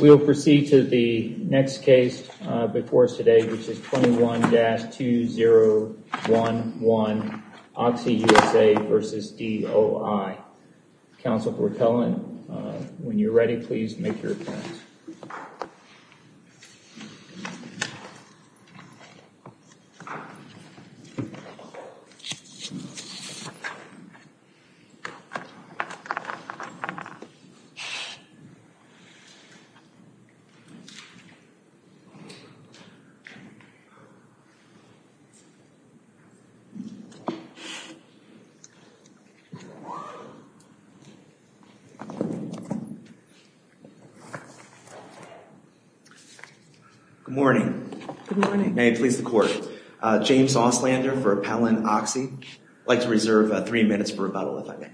We will proceed to the next case before us today which is 21-2011 OXY USA v. DOI. Counsel for appellant when you're ready please make your appearance. Good morning. May it please the court. James Auslander for appellant OXY. I'd like to reserve three minutes for rebuttal if I may.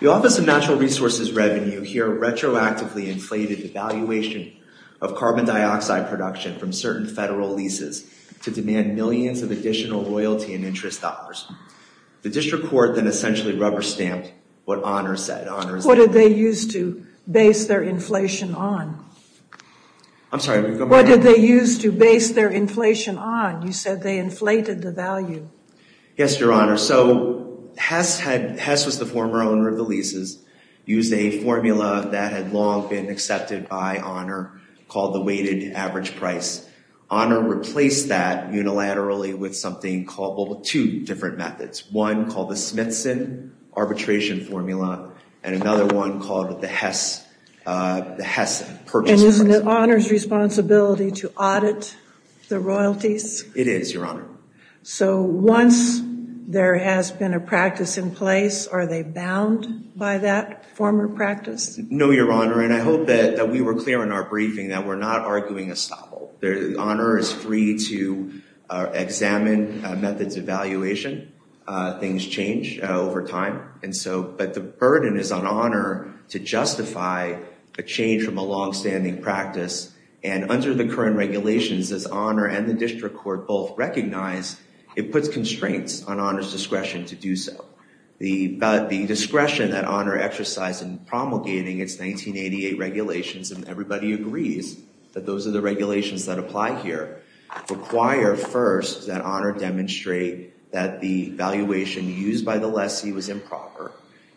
The Office of Natural Resources Revenue here retroactively inflated the valuation of carbon dioxide production from certain federal leases to demand millions of additional royalty and interest dollars. The district court then essentially rubber-stamped what Honor said. What did they use to base their inflation on? I'm sorry. What did they use to base their inflation on? You said they inflated the value. Yes, Your Honor. So Hess was the former owner of the leases, used a formula that had long been accepted by Honor called the weighted average price. Honor replaced that unilaterally with something called, well, two different methods. One called the Smithson arbitration formula and another one called the Hess purchase price. And isn't it Honor's responsibility to audit the royalties? It is, Your Honor. So once there has been a practice in place, are they bound by that former practice? No, Your Honor. And I hope that we were clear in our briefing that we're not arguing a stopple. Honor is free to examine methods of valuation. Things change over time. But the burden is on Honor to justify a change from a longstanding practice. And under the current regulations, as Honor and the district court both recognize, it puts constraints on Honor's discretion to do so. But the discretion that Honor exercised in promulgating its 1988 regulations, and everybody agrees that those are the regulations that apply here, require first that Honor demonstrate that the valuation used by the lessee was improper.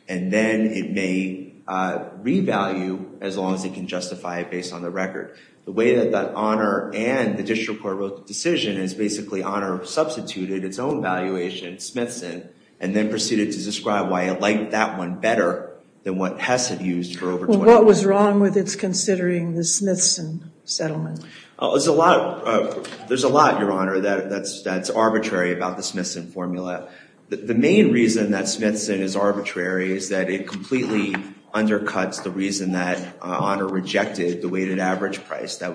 And then it may revalue as long as it can justify it based on the record. The way that Honor and the district court wrote the decision is basically Honor substituted its own valuation, Smithson, and then proceeded to describe why it liked that one better than what Hess had used for over 20 years. Well, what was wrong with its considering the Smithson settlement? There's a lot, Your Honor, that's arbitrary about the Smithson formula. The main reason that Smithson is arbitrary is that it completely undercuts the reason that Honor rejected the weighted average price that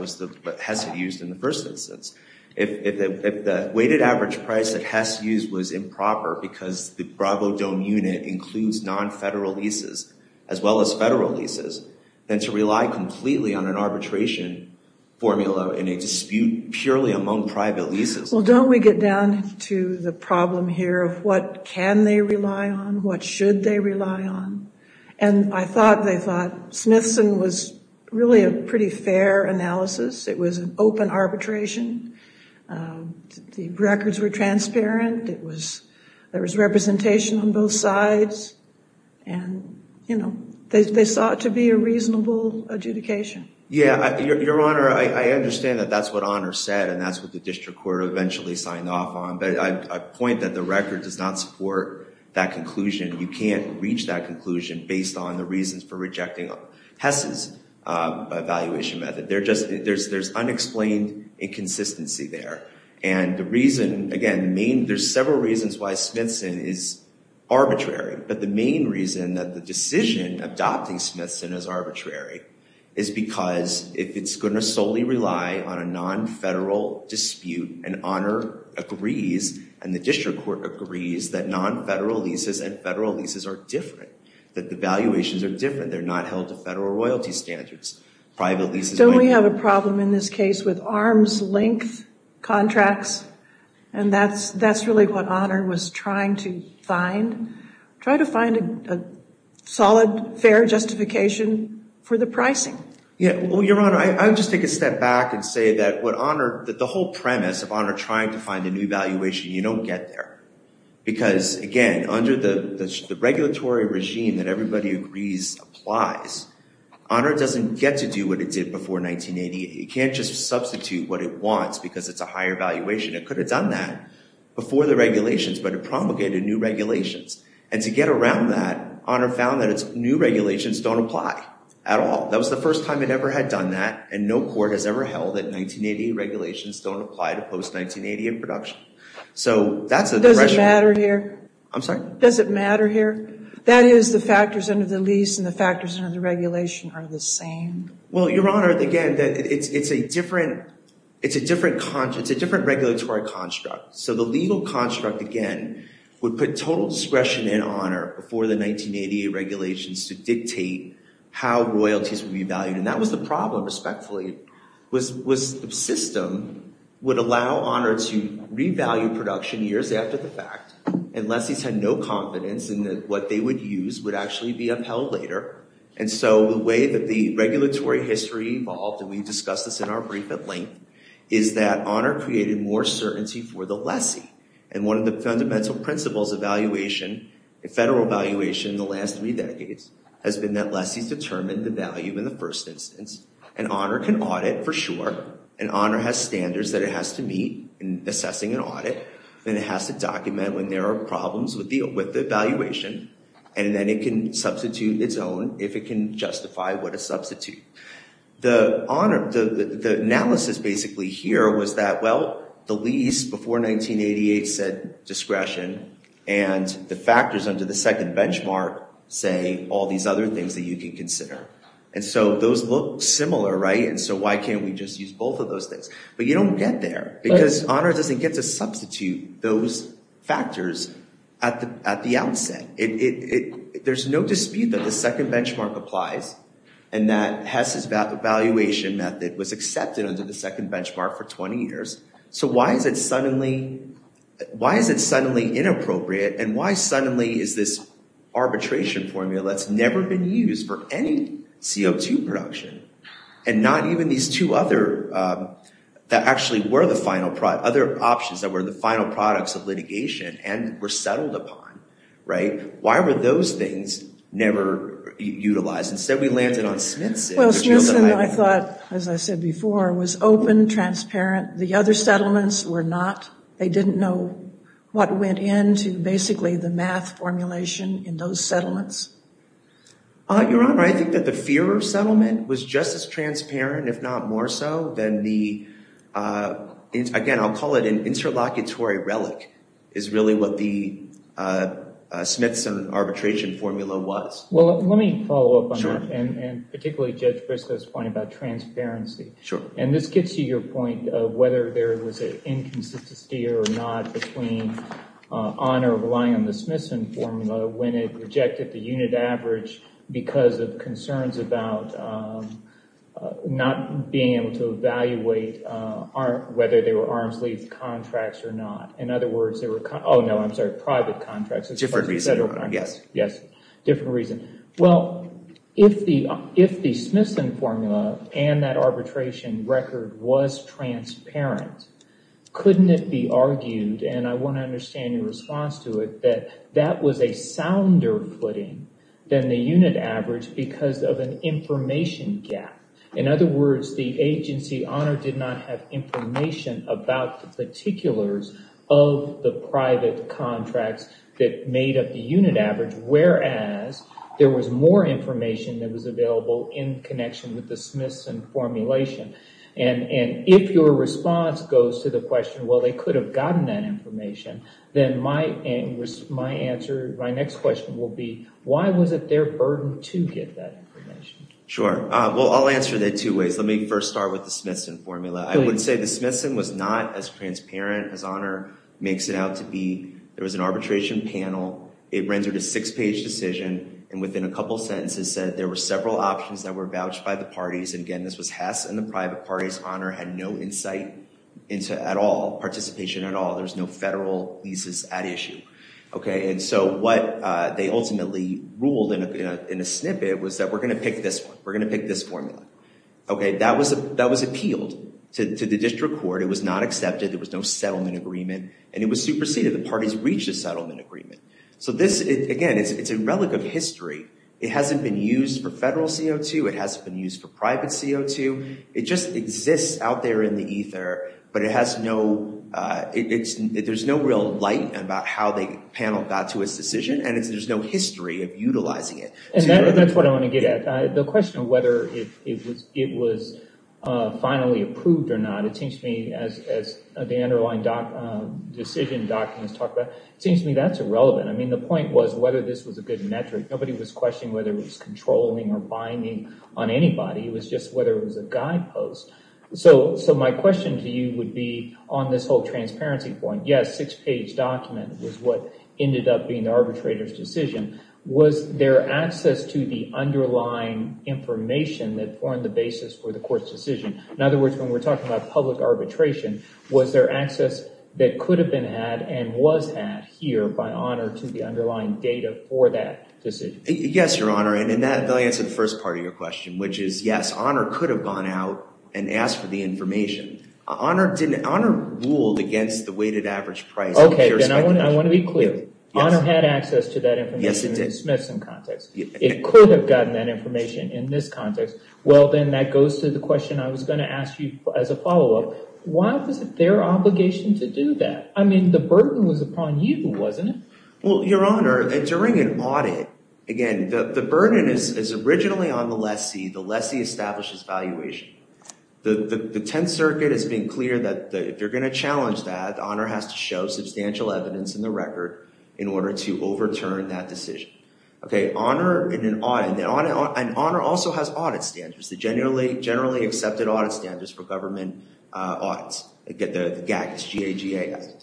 Hess had used in the first instance. If the weighted average price that Hess used was improper because the Bravo Dome unit includes non-federal leases, as well as federal leases, then to rely completely on an arbitration formula in a dispute purely among private leases. Well, don't we get down to the problem here of what can they rely on, what should they rely on? And I thought they thought Smithson was really a pretty fair analysis. It was an open arbitration. The records were transparent. It was, there was representation on both sides and, you know, they sought to be a reasonable adjudication. Yeah, Your Honor, I understand that that's what Honor said and that's what the district court eventually signed off on, but I point that the record does not support that conclusion. You can't reach that conclusion based on the reasons for rejecting Hess's evaluation method. They're just, there's unexplained inconsistency there. And the reason, again, main, there's several reasons why Smithson is arbitrary, but the main reason that the decision adopting Smithson as arbitrary is because if it's going to solely rely on a non-federal dispute and Honor agrees and the district court agrees that non-federal leases and federal leases are different, that the valuations are different, they're not held to federal royalty standards, private leases might be. Don't we have a problem in this case with arms length contracts? And that's, that's really what Honor was trying to find. Try to find a solid, fair justification for the pricing. Yeah, well, Your Honor, I would just take a step back and say that what Honor, the whole premise of Honor trying to find a new valuation, you don't get there because, again, under the regulatory regime that everybody agrees applies, Honor doesn't get to do what it did before 1980. It can't just substitute what it wants because it's a higher valuation. It could have done that before the regulations, but it promulgated new regulations. And to get around that, Honor found that it's new regulations don't apply at all. That was the first time it ever had done that and no court has ever held that 1980 regulations don't apply to post-1980 in production. So that's a... Does it matter here? I'm sorry? Does it matter here? That is the factors under the lease and the factors under the regulation are the same? Well, Your Honor, again, that it's, it's a different, it's a different, it's a different regulatory construct. So the legal discretion in Honor before the 1980 regulations to dictate how royalties would be valued, and that was the problem, respectfully, was the system would allow Honor to revalue production years after the fact, and lessees had no confidence in that what they would use would actually be upheld later. And so the way that the regulatory history evolved, and we discussed this in our brief at length, is that Honor created more certainty for the lessee. And one of the fundamental principles of valuation, federal valuation, in the last three decades has been that lessees determine the value in the first instance. And Honor can audit for sure, and Honor has standards that it has to meet in assessing an audit, and it has to document when there are problems with the, with the valuation, and then it can substitute its own if it can justify what a substitute. The Honor, the analysis basically here was that, well, the lease before 1988 said discretion, and the factors under the second benchmark say all these other things that you can consider. And so those look similar, right, and so why can't we just use both of those things? But you don't get there, because Honor doesn't get to substitute those factors at the, at the outset. It, it, it, there's no dispute that the second benchmark for 20 years. So why is it suddenly, why is it suddenly inappropriate, and why suddenly is this arbitration formula that's never been used for any CO2 production, and not even these two other, that actually were the final product, other options that were the final products of litigation, and were settled upon, right? Why were those things never utilized? Instead we landed on open, transparent, the other settlements were not. They didn't know what went into basically the math formulation in those settlements. Your Honor, I think that the fear of settlement was just as transparent, if not more so, than the, again, I'll call it an interlocutory relic, is really what the Smithson arbitration formula was. Well, let me follow up on that, and particularly Judge Briscoe's point about transparency. Sure. And this gets to your point of whether there was an inconsistency or not between Honor relying on the Smithson formula when it rejected the unit average because of concerns about not being able to evaluate whether they were arms lease contracts or not. In other words, they were, oh no, I'm sorry, private contracts. Different reason. Yes, yes, different reason. Well, if the Smithson formula and that arbitration record was transparent, couldn't it be argued, and I want to understand your response to it, that that was a sounder footing than the unit average because of an information gap? In other words, the agency, Honor did not have information about the particulars of the private contracts that made up the unit average, whereas there was more information that was available in connection with the Smithson formulation. And if your response goes to the question, well, they could have gotten that information, then my answer, my next question will be, why was it their burden to get that information? Sure. Well, I'll answer that two ways. Let me first start with the Smithson formula. I would say the Smithson was not as transparent as Honor makes it out to be. There was an arbitration panel. It rendered a six-page decision, and within a couple sentences said there were several options that were vouched by the parties. And again, this was Hess and the private parties. Honor had no insight into at all, participation at all. There's no federal leases at issue. And so what they ultimately ruled in a snippet was that we're going to pick this one. We're going to pick this formula. That was appealed to the district court. It was not accepted. There was no settlement agreement, and it was superseded. The parties reached a settlement agreement. So this, again, it's a relic of history. It hasn't been used for federal CO2. It hasn't been used for private CO2. It just exists out there in the ether, but there's no real light about how the panel got to its decision, and there's no history of utilizing it. And that's what I want to get at. The question of whether it was finally approved or not, as the underlying decision documents talk about, it seems to me that's irrelevant. I mean, the point was whether this was a good metric. Nobody was questioning whether it was controlling or binding on anybody. It was just whether it was a guidepost. So my question to you would be, on this whole transparency point, yes, six-page document was what ended up being the arbitrator's decision. Was there access to the underlying information that formed the basis for the public arbitration? Was there access that could have been had and was had here by Honor to the underlying data for that decision? Yes, Your Honor, and I'll answer the first part of your question, which is, yes, Honor could have gone out and asked for the information. Honor ruled against the weighted average price of pure speculation. Okay, then I want to be clear. Honor had access to that information in the Smithson context. It could have gotten that information in this context. Well, then that goes to the question I was going to ask you as a follow-up. Why was it their obligation to do that? I mean, the burden was upon you, wasn't it? Well, Your Honor, during an audit, again, the burden is originally on the lessee. The lessee establishes valuation. The Tenth Circuit has been clear that if they're going to challenge that, Honor has to show substantial evidence in the record in order to overturn that decision. Okay, Honor, in an audit, and Honor also has audit standards, the generally accepted audit standards for government audits, the GAGS, G-A-G-A-S,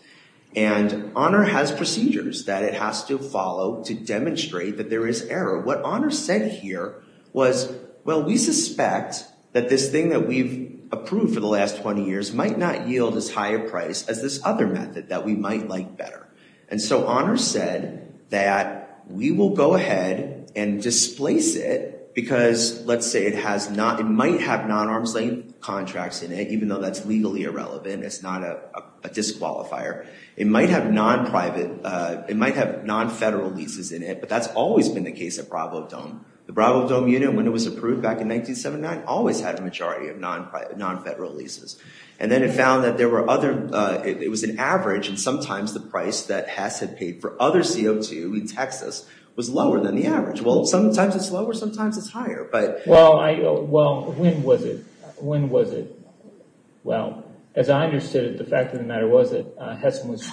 and Honor has procedures that it has to follow to demonstrate that there is error. What Honor said here was, well, we suspect that this thing that we've approved for the last 20 years might not yield as high a price as this other method that we might like better, and so Honor said that we will go ahead and displace it because, let's say, it might have non-arms-length contracts in it, even though that's legally irrelevant, it's not a disqualifier. It might have non-federal leases in it, but that's always been the case at Bravo Dome. The Bravo Dome unit, when it was approved back in 1979, always had a majority of non-federal leases, and then it found that it was an average, and sometimes the price that Hess had paid for other CO2 in Texas was lower than the average. Well, sometimes it's lower, sometimes it's higher. Well, when was it? Well, as I understood it, the fact of the matter was that Hess was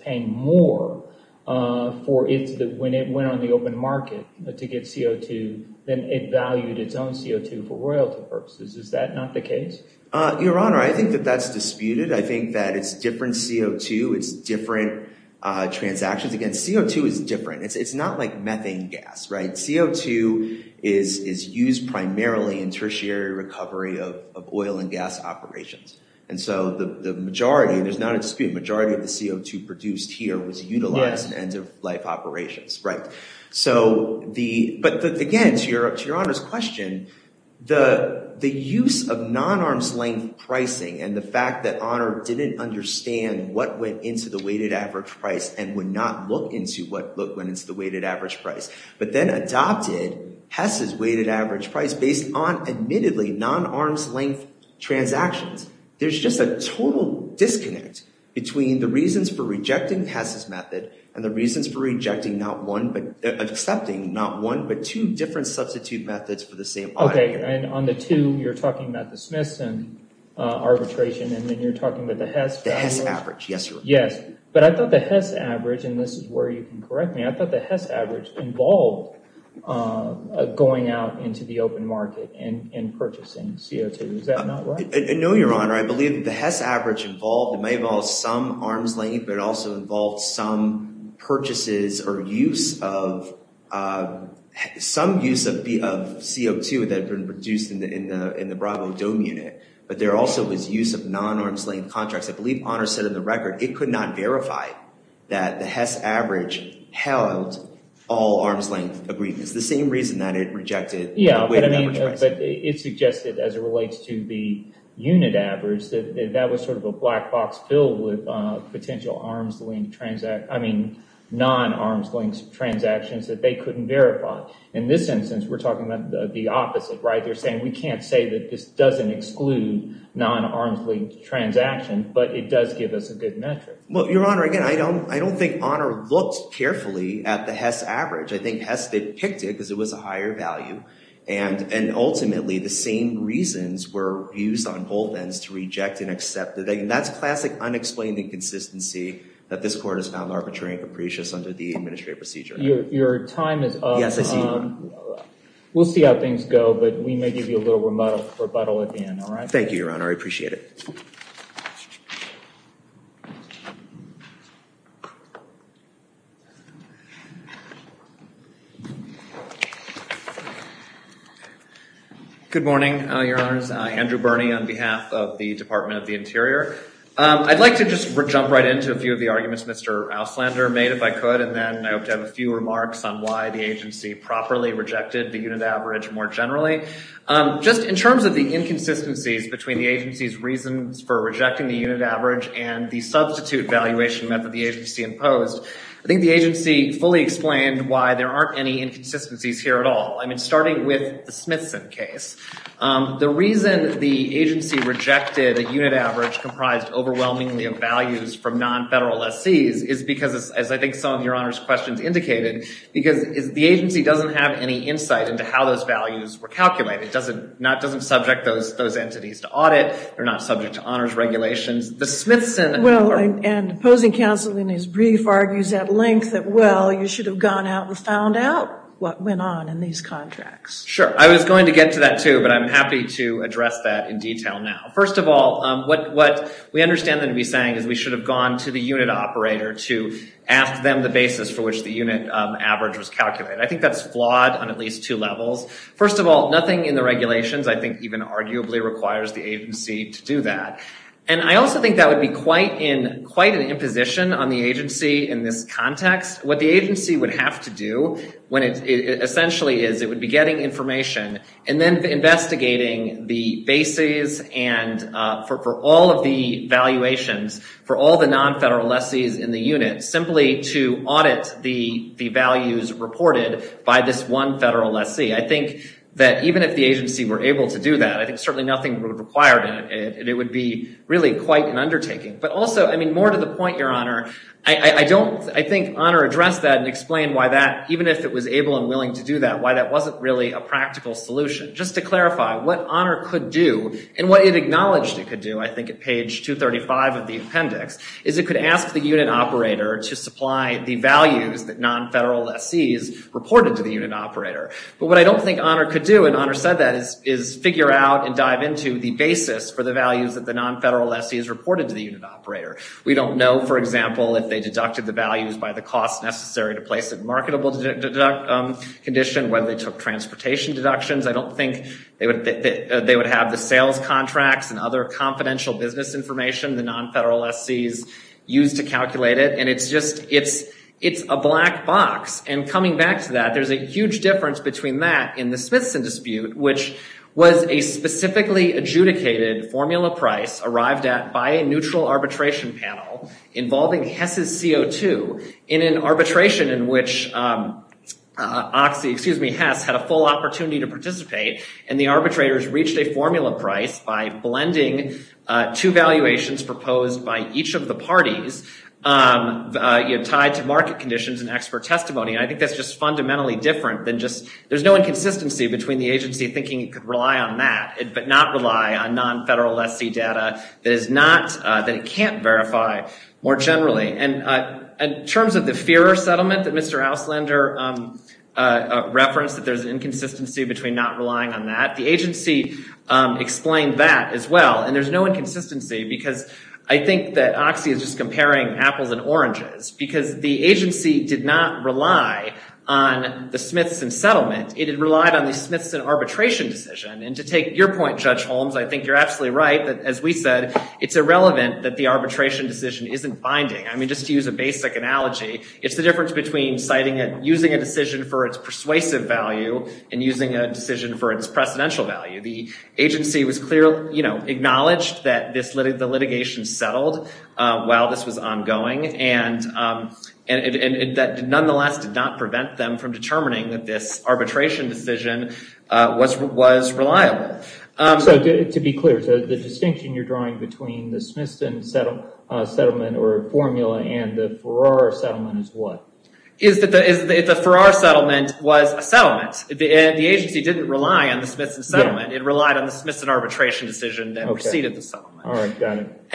paying more for it when it went on the open market to get CO2 than it valued its own CO2 for royalty purposes. Is that not the case? Your Honor, I think that that's disputed. I think that it's different CO2, it's different transactions. Again, CO2 is different. It's not like CO2 is used primarily in tertiary recovery of oil and gas operations, and so the majority, there's not a dispute, the majority of the CO2 produced here was utilized in end-of-life operations, right? But again, to Your Honor's question, the use of non-arms-length pricing and the fact that Honor didn't understand what went into the weighted average price and would look into what went into the weighted average price, but then adopted Hess's weighted average price based on, admittedly, non-arms-length transactions. There's just a total disconnect between the reasons for rejecting Hess's method and the reasons for accepting not one, but two different substitute methods for the same audio. Okay, and on the two, you're talking about the Smithson arbitration, and then you're talking about the Hess value? The Hess average, yes, Your Honor. Yes, but I thought the Hess average, and this is where you can correct me, I thought the Hess average involved going out into the open market and purchasing CO2. Is that not right? No, Your Honor. I believe the Hess average involved, it may involve some arms length, but it also involved some purchases or use of, some use of CO2 that had been produced in the Broadway Dome unit, but there also was use of non-arms-length contracts. I believe Honor said in the record, it could not verify that the Hess average held all arms-length agreements, the same reason that it rejected the weighted average price. Yeah, but I mean, but it suggested, as it relates to the unit average, that that was sort of a black box filled with potential arms-length transactions, I mean, non-arms-length transactions that they couldn't verify. In this instance, we're talking about the opposite, right? They're saying, we can't say that this doesn't exclude non-arms-length transactions, but it does give us a good metric. Well, Your Honor, again, I don't think Honor looked carefully at the Hess average. I think Hess picked it because it was a higher value, and ultimately, the same reasons were used on both ends to reject and accept, and that's classic unexplained inconsistency that this Court has found arbitrary and capricious under the administrative procedure. Your time is up. Yes, I see. We'll see how things go, but we may give you a little rebuttal at the end, all right? Thank you, Your Honor. I appreciate it. Good morning, Your Honors. Andrew Birney on behalf of the Department of the Interior. I'd like to just jump right into a few of the arguments Mr. Auslander made, if I could, and then I hope to have a few remarks on why the agency properly rejected the unit average more generally. Just in terms of the inconsistencies between the agency's reasons for rejecting the unit average and the substitute valuation method the agency imposed, I think the agency fully explained why there aren't any inconsistencies here at all. I mean, starting with the Smithson case, the reason the agency rejected a unit average comprised overwhelmingly of values from non-federal lessees is because, as I think some of Your Honor's questions indicated, because the agency doesn't have any insight into how those values were calculated. It doesn't subject those entities to audit. They're not subject to honors regulations. The Smithson... Well, and opposing counsel in his brief argues at length that, well, you should have gone out and found out what went on in these contracts. Sure. I was going to get to that too, but I'm happy to address that in detail now. First of all, what we understand them to be saying is we should have gone to the unit operator to ask them the basis for which the unit average was calculated. I think that's flawed on at least two levels. First of all, nothing in the regulations I think even arguably requires the agency to do that. And I also think that would be quite an imposition on the agency in this context. What the agency would have to do when it essentially is it would be getting information and then investigating the bases and for all of the valuations for all the non-federal lessees in the unit simply to audit the values reported by this one federal lessee. I think that even if the agency were able to do that, I think certainly nothing would require that. And it would be really quite an undertaking. But also, I mean, more to the point, Your Honor, I don't... I think Honor addressed that and explained why that even if it was able and willing to do that, why that wasn't really a practical solution. Just to clarify what Honor could do and what it supply the values that non-federal lessees reported to the unit operator. But what I don't think Honor could do, and Honor said that, is figure out and dive into the basis for the values that the non-federal lessees reported to the unit operator. We don't know, for example, if they deducted the values by the cost necessary to place a marketable condition, whether they took transportation deductions. I don't think they would have the sales contracts and other confidential business information the non-federal lessees used to calculate it. And it's just, it's a black box. And coming back to that, there's a huge difference between that in the Smithson dispute, which was a specifically adjudicated formula price arrived at by a neutral arbitration panel involving Hess's CO2 in an arbitration in which Oxy, excuse me, Hess had a full opportunity to propose by each of the parties tied to market conditions and expert testimony. And I think that's just fundamentally different than just, there's no inconsistency between the agency thinking it could rely on that, but not rely on non-federal lessee data that is not, that it can't verify more generally. And in terms of the fear settlement that Mr. Auslander referenced, that there's an inconsistency between not relying on that, the agency explained that as well. And there's no inconsistency because I think that Oxy is just comparing apples and oranges because the agency did not rely on the Smithson settlement. It had relied on the Smithson arbitration decision. And to take your point, Judge Holmes, I think you're absolutely right that as we said, it's irrelevant that the arbitration decision isn't binding. I mean, just to use a basic analogy, it's the difference between citing it, using a decision for its persuasive value and using a decision for its precedential value. The agency was clearly, you know, acknowledged that the litigation settled while this was ongoing and that nonetheless did not prevent them from determining that this arbitration decision was reliable. So to be clear, so the distinction you're drawing between the Smithson settlement or formula and the Farrar settlement is what? Is that the Farrar settlement was a settlement. The agency didn't rely on the Smithson settlement. It relied on the Smithson arbitration decision that preceded the settlement.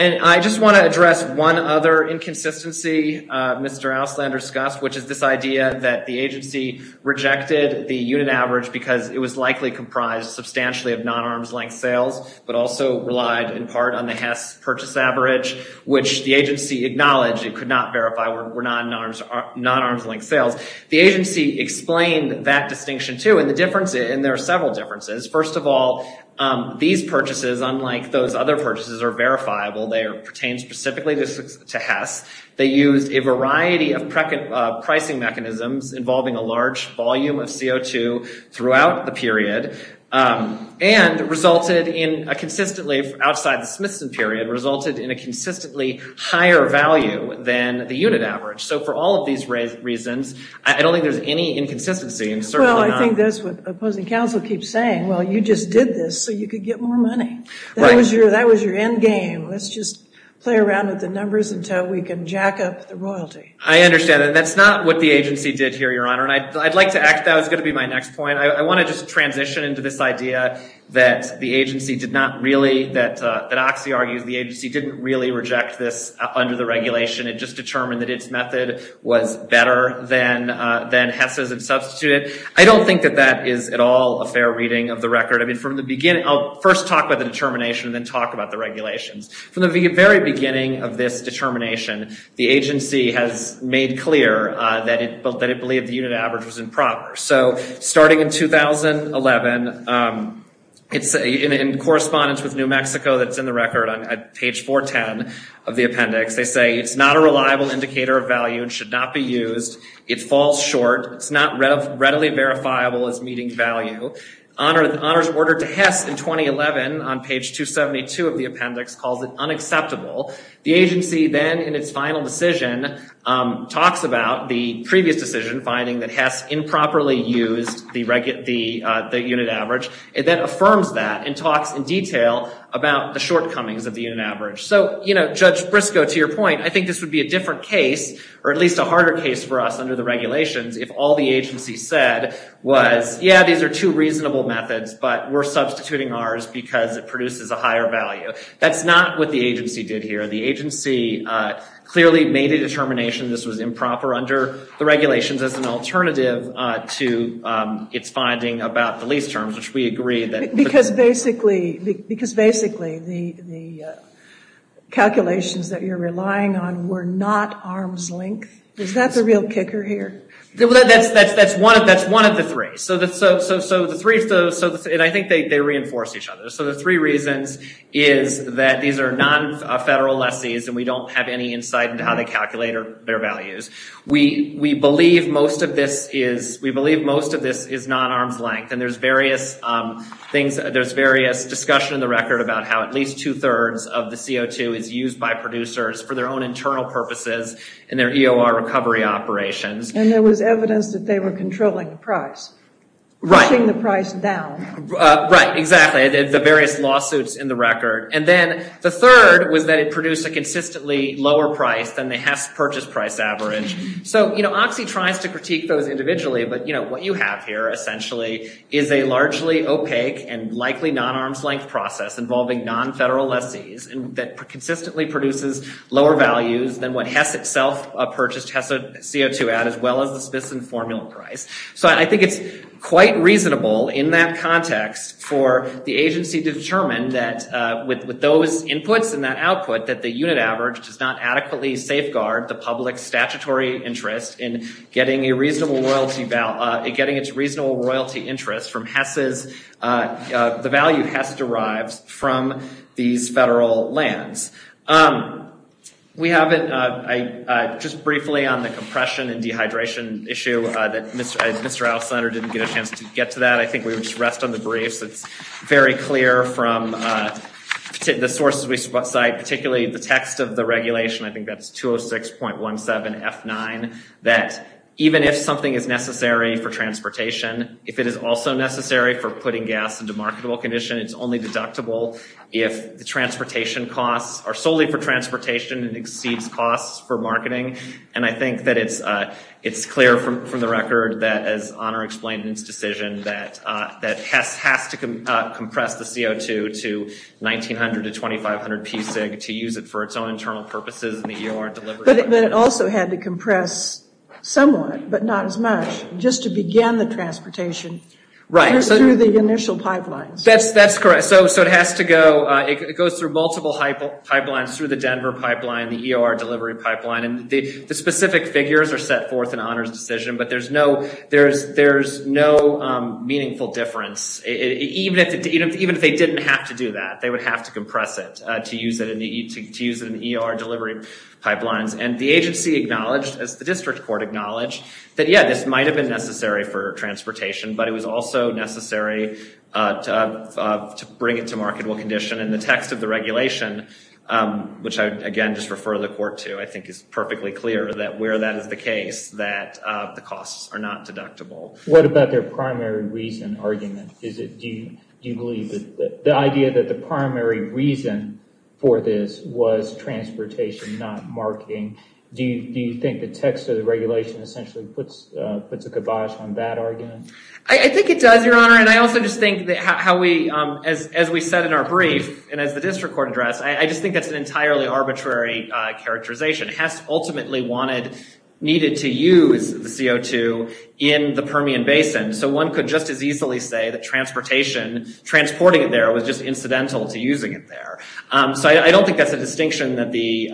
And I just want to address one other inconsistency Mr. Auslander discussed, which is this idea that the agency rejected the unit average because it was likely comprised substantially of non-arms length sales, but also relied in part on the Hess purchase average, which the agency acknowledged it could not verify were non-arms length sales. The agency explained that distinction too, and there are several differences. First of all, these purchases, unlike those other purchases, are verifiable. They pertain specifically to Hess. They used a variety of pricing mechanisms involving a large volume of CO2 throughout the period and resulted in a consistently, outside the Smithson period, resulted in a consistently higher value than the unit average. So for all of these reasons, I don't think there's any inconsistency. Well, I think that's what opposing counsel keeps saying. Well, you just did this so you could get more money. That was your end game. Let's just play around with the numbers until we can jack up the royalty. I understand. And that's not what the agency did here, Your Honor. And I'd like to act, that was going to be my next point. I want to just transition into this idea that the agency didn't really reject this under the regulation. It just determined that its method was better than Hess's and substituted. I don't think that that is at all a fair reading of the record. I mean, from the beginning, I'll first talk about the determination and then talk about the regulations. From the very beginning of this determination, the agency has made clear that it believed the unit average was improper. So starting in 2011, in correspondence with New Mexico that's in the record on page 410 of the appendix, they say it's not a reliable indicator of value and should not be used. It falls short. It's not readily verifiable as meeting value. Honor's order to Hess in 2011 on page 272 of the appendix calls it unacceptable. The agency then in its final decision talks about the previous decision finding that Hess improperly used the unit average. It then affirms that and talks in detail about the shortcomings of the unit average. So, you know, Judge Briscoe, to your point, I think this would be a different case or at least a harder case for us under the regulations if all the agency said was, yeah, these are two reasonable methods, but we're substituting ours because it produces a higher value. That's not what the agency did here. The agency clearly made a determination this was improper under the agreement. Because basically the calculations that you're relying on were not arm's length. Is that the real kicker here? That's one of the three. So the three, and I think they reinforce each other. So the three reasons is that these are non-federal lessees and we don't have any insight into how they calculate their values. We believe most of this is non-arm's length and there's various things, there's various discussion in the record about how at least two thirds of the CO2 is used by producers for their own internal purposes and their EOR recovery operations. And there was evidence that they were controlling the price. Right. Pushing the price down. Right, exactly. The various lawsuits in the record. And then the third was that it produced a consistently lower price than the Hess purchase price average. So, you know, Oxy tries to critique those individually, but, you know, what you have here essentially is a largely opaque and likely non-arm's length process involving non-federal lessees that consistently produces lower values than what Hess itself purchased CO2 at as well as the Smithson formula price. So I think it's quite reasonable in that context for the agency to determine that with those inputs and that output that the unit average does not adequately safeguard the public statutory interest in getting a reasonable royalty, getting its reasonable royalty interest from Hess's, the value Hess derives from these federal lands. We haven't, just briefly on the compression and dehydration issue that Mr. Alexander didn't get a chance to get to that. I think we would just rest on the briefs. It's very clear from the sources we cite, particularly the text of the regulation, I think that's 206.17 F9, that even if something is necessary for transportation, if it is also necessary for putting gas into marketable condition, it's only deductible if the transportation costs are solely for transportation and exceeds costs for marketing. And I think that it's clear from the record that as Honor explained in its decision that Hess has to compress the CO2 to 1,900 to 2,500 psig to use it for its own internal purposes in the EOR delivery. But it also had to compress somewhat, but not as much, just to begin the transportation through the initial pipelines. That's correct. So it has to go, it goes through multiple pipelines through the Denver pipeline, the EOR delivery pipeline, and the specific figures are set forth in Honor's decision, but there's no meaningful difference, even if they didn't have to do that. They would have to compress it to use it in EOR delivery pipelines. And the agency acknowledged, as the district court acknowledged, that yeah, this might have been necessary for transportation, but it was also necessary to bring it to marketable condition. And the text of the regulation, which I again just refer the court to, I think is perfectly clear that where that is the case that the costs are not deductible. What about their primary reason argument? Is it, do you have the idea that the primary reason for this was transportation, not marketing? Do you think the text of the regulation essentially puts a kibosh on that argument? I think it does, Your Honor, and I also just think that how we, as we said in our brief, and as the district court addressed, I just think that's an entirely arbitrary characterization. Hess ultimately wanted, needed to use the CO2 in the Permian Basin. So one could just as easily say that transportation, transporting it there, was just incidental to using it there. So I don't think that's a distinction that the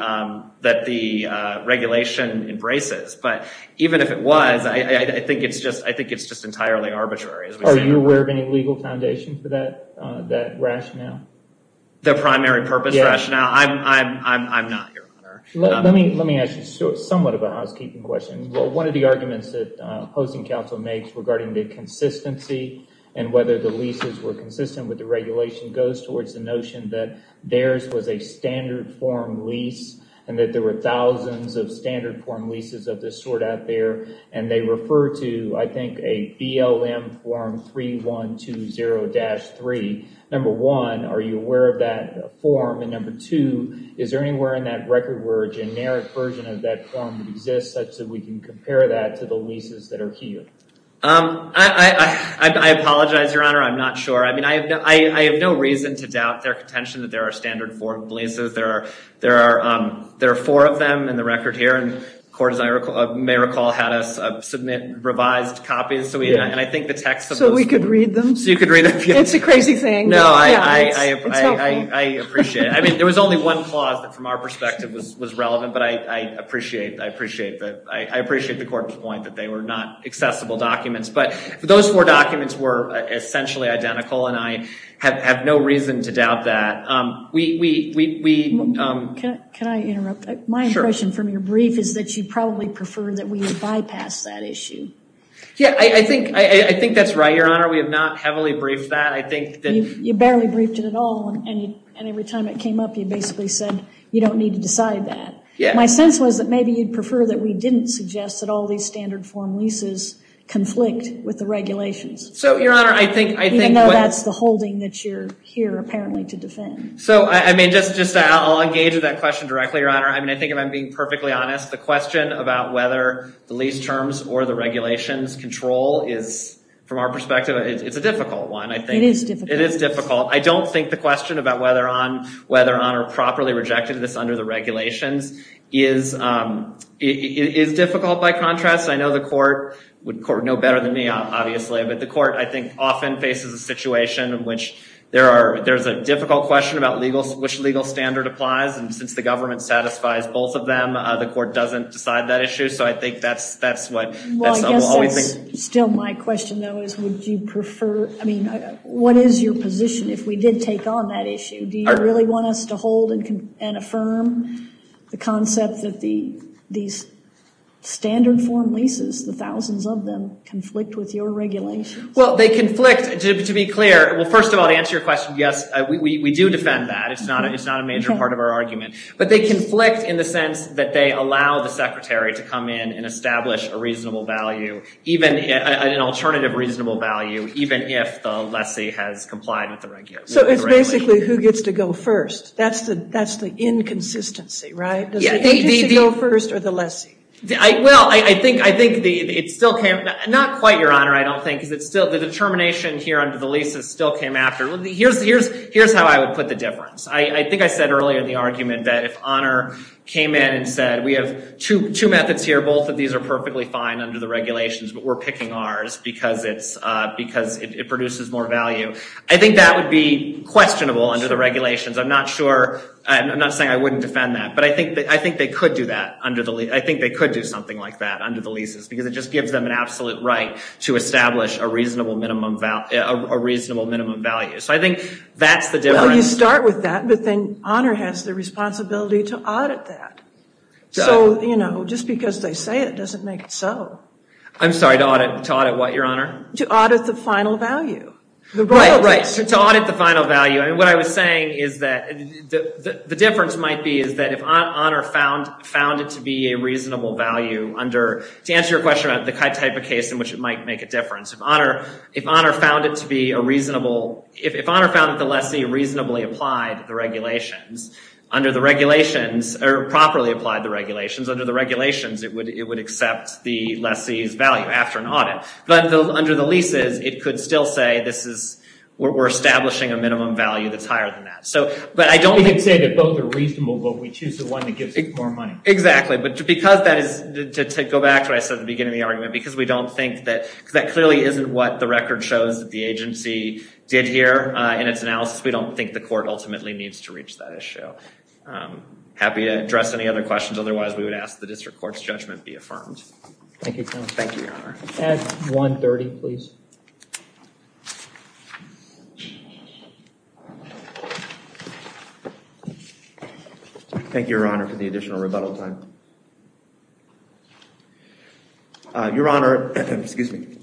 regulation embraces, but even if it was, I think it's just entirely arbitrary. Are you aware of any legal foundation for that rationale? The primary purpose rationale? I'm not, Your Honor. Let me ask you somewhat of a housekeeping question. Well, one of the arguments that opposing counsel makes regarding the consistency and whether the leases were consistent with the regulation goes towards the notion that theirs was a standard form lease and that there were thousands of standard form leases of this sort out there, and they refer to, I think, a BLM form 3120-3. Number one, are you aware of that form? And number two, is there anywhere in that record where a generic version of that form exists such that we can compare that to the leases that are here? I apologize, Your Honor. I'm not sure. I mean, I have no reason to doubt their contention that there are standard form leases. There are four of them in the record here, and the court, as I may recall, had us submit revised copies. So we could read them. It's a crazy thing. No, I appreciate it. I mean, there was only one clause that from our perspective was relevant, but I appreciate the court's point that they were not accessible documents. But those four documents were essentially identical, and I have no reason to doubt that. Can I interrupt? My impression from your brief is that you probably prefer that we bypass that issue. Yeah, I think that's right, Your Honor. We have not heavily briefed that. I think that you barely briefed it at all, and every time it came up, you basically said you don't need to decide that. My sense was that maybe you'd prefer that we didn't suggest that all these standard form leases conflict with the regulations, even though that's the holding that you're here, apparently, to defend. So, I mean, I'll engage with that question directly, Your Honor. I mean, I think if I'm being perfectly honest, the question about whether the lease terms or the regulations control is, from our perspective, it's a difficult one. It is difficult. I don't think the question about whether or not or properly rejected this under the regulations is difficult by contrast. I know the court would know better than me, obviously, but the court, I think, often faces a situation in which there's a difficult question about which legal standard applies, and since the government satisfies both of them, the court doesn't decide that issue. So I think that's what we'll always think. Well, I guess that's still my question, though, would you prefer, I mean, what is your position if we did take on that issue? Do you really want us to hold and affirm the concept that these standard form leases, the thousands of them, conflict with your regulations? Well, they conflict, to be clear. Well, first of all, to answer your question, yes, we do defend that. It's not a major part of our argument, but they conflict in the sense that they allow the secretary to come in and establish a reasonable value even if the lessee has complied with the regulations. So it's basically who gets to go first. That's the inconsistency, right? Does the agency go first or the lessee? Well, I think it still came, not quite, Your Honor, I don't think, because it's still, the determination here under the leases still came after. Here's how I would put the difference. I think I said earlier in the argument that if Honor came in and said we have two methods here, both of these are perfectly fine under the regulations, but we're picking ours because it produces more value. I think that would be questionable under the regulations. I'm not sure, I'm not saying I wouldn't defend that, but I think they could do that under the lease. I think they could do something like that under the leases because it just gives them an absolute right to establish a reasonable minimum value. So I think that's the difference. Well, you start with that, but then Honor has the responsibility to audit that. So, you know, just because they say it doesn't make it so. I'm sorry, to audit what, Your Honor? To audit the final value. Right, right, to audit the final value. I mean, what I was saying is that the difference might be is that if Honor found it to be a reasonable value under, to answer your question about the type of case in which it might make a difference, if Honor found it to be a reasonable, if Honor found that the lessee reasonably applied the regulations under the regulations, or properly applied the regulations under the regulations, it would accept the lessee's value after an audit. But under the leases, it could still say this is, we're establishing a minimum value that's higher than that. So, but I don't think. We can say that both are reasonable, but we choose the one that gives us more money. Exactly, but because that is, to go back to what I said at the beginning of the argument, because we don't think that, because that clearly isn't what the record shows that the agency did here in its analysis, we don't think the court ultimately needs to reach that issue. I'm happy to address any other questions. Otherwise, we would ask the district court's judgment be affirmed. Thank you. Thank you, Your Honor. At 1.30, please. Thank you, Your Honor, for the additional rebuttal time. Your Honor, excuse me.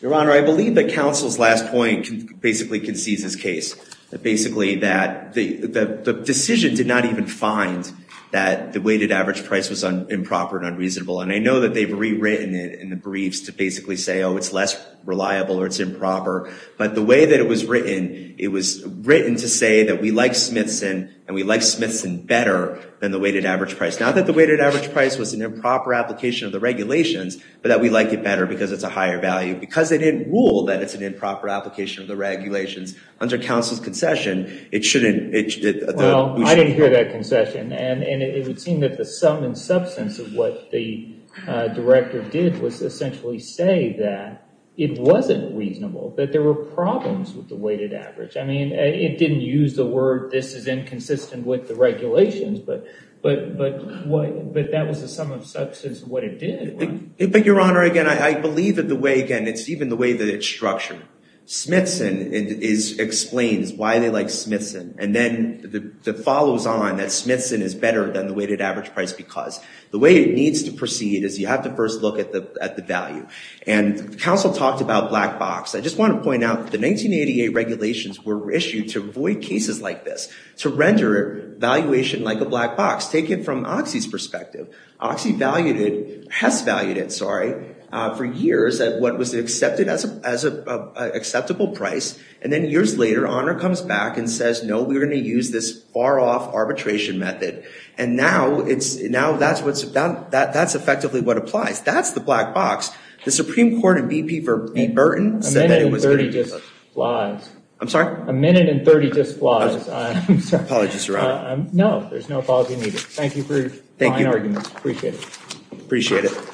Your Honor, I believe that counsel's last point basically concedes his case. Basically, that the decision did not even find that the weighted average price was improper and unreasonable. And I know that they've rewritten it in the briefs to basically say, oh, it's less reliable or it's improper. But the way that it was written, it was written to say that we like Smithson, and we like Smithson better than the weighted average price. Not that the weighted average price was an improper application of the regulations, but that we like it better because it's a higher value. Because they didn't rule that it's an improper application of the regulations. Under counsel's concession, it shouldn't... Well, I didn't hear that concession. And it would seem that the sum and substance of what the director did was essentially say that it wasn't reasonable, that there were problems with the weighted average. I mean, it didn't use the word, this is inconsistent with the regulations, but that was the sum of substance of what it did. But Your Honor, again, I believe that the way, again, it's even the way that it's structured. Smithson explains why they like Smithson. And then it follows on that Smithson is better than the weighted average price because the way it needs to proceed is you have to first look at the value. And counsel talked about black box. I just want to point out the 1988 regulations were issued to avoid cases like this, to render valuation like a black box. Take it from there. Hess valued it, sorry, for years at what was accepted as an acceptable price. And then years later, Honor comes back and says, no, we're going to use this far off arbitration method. And now that's effectively what applies. That's the black box. The Supreme Court and VP for Pete Burton said that it was... A minute and 30 just flies. I'm sorry? A minute and 30 just flies. I'm sorry. Apologies, Your Honor. No, there's no apology needed. Thank you for your fine arguments. Appreciate it. Appreciate it.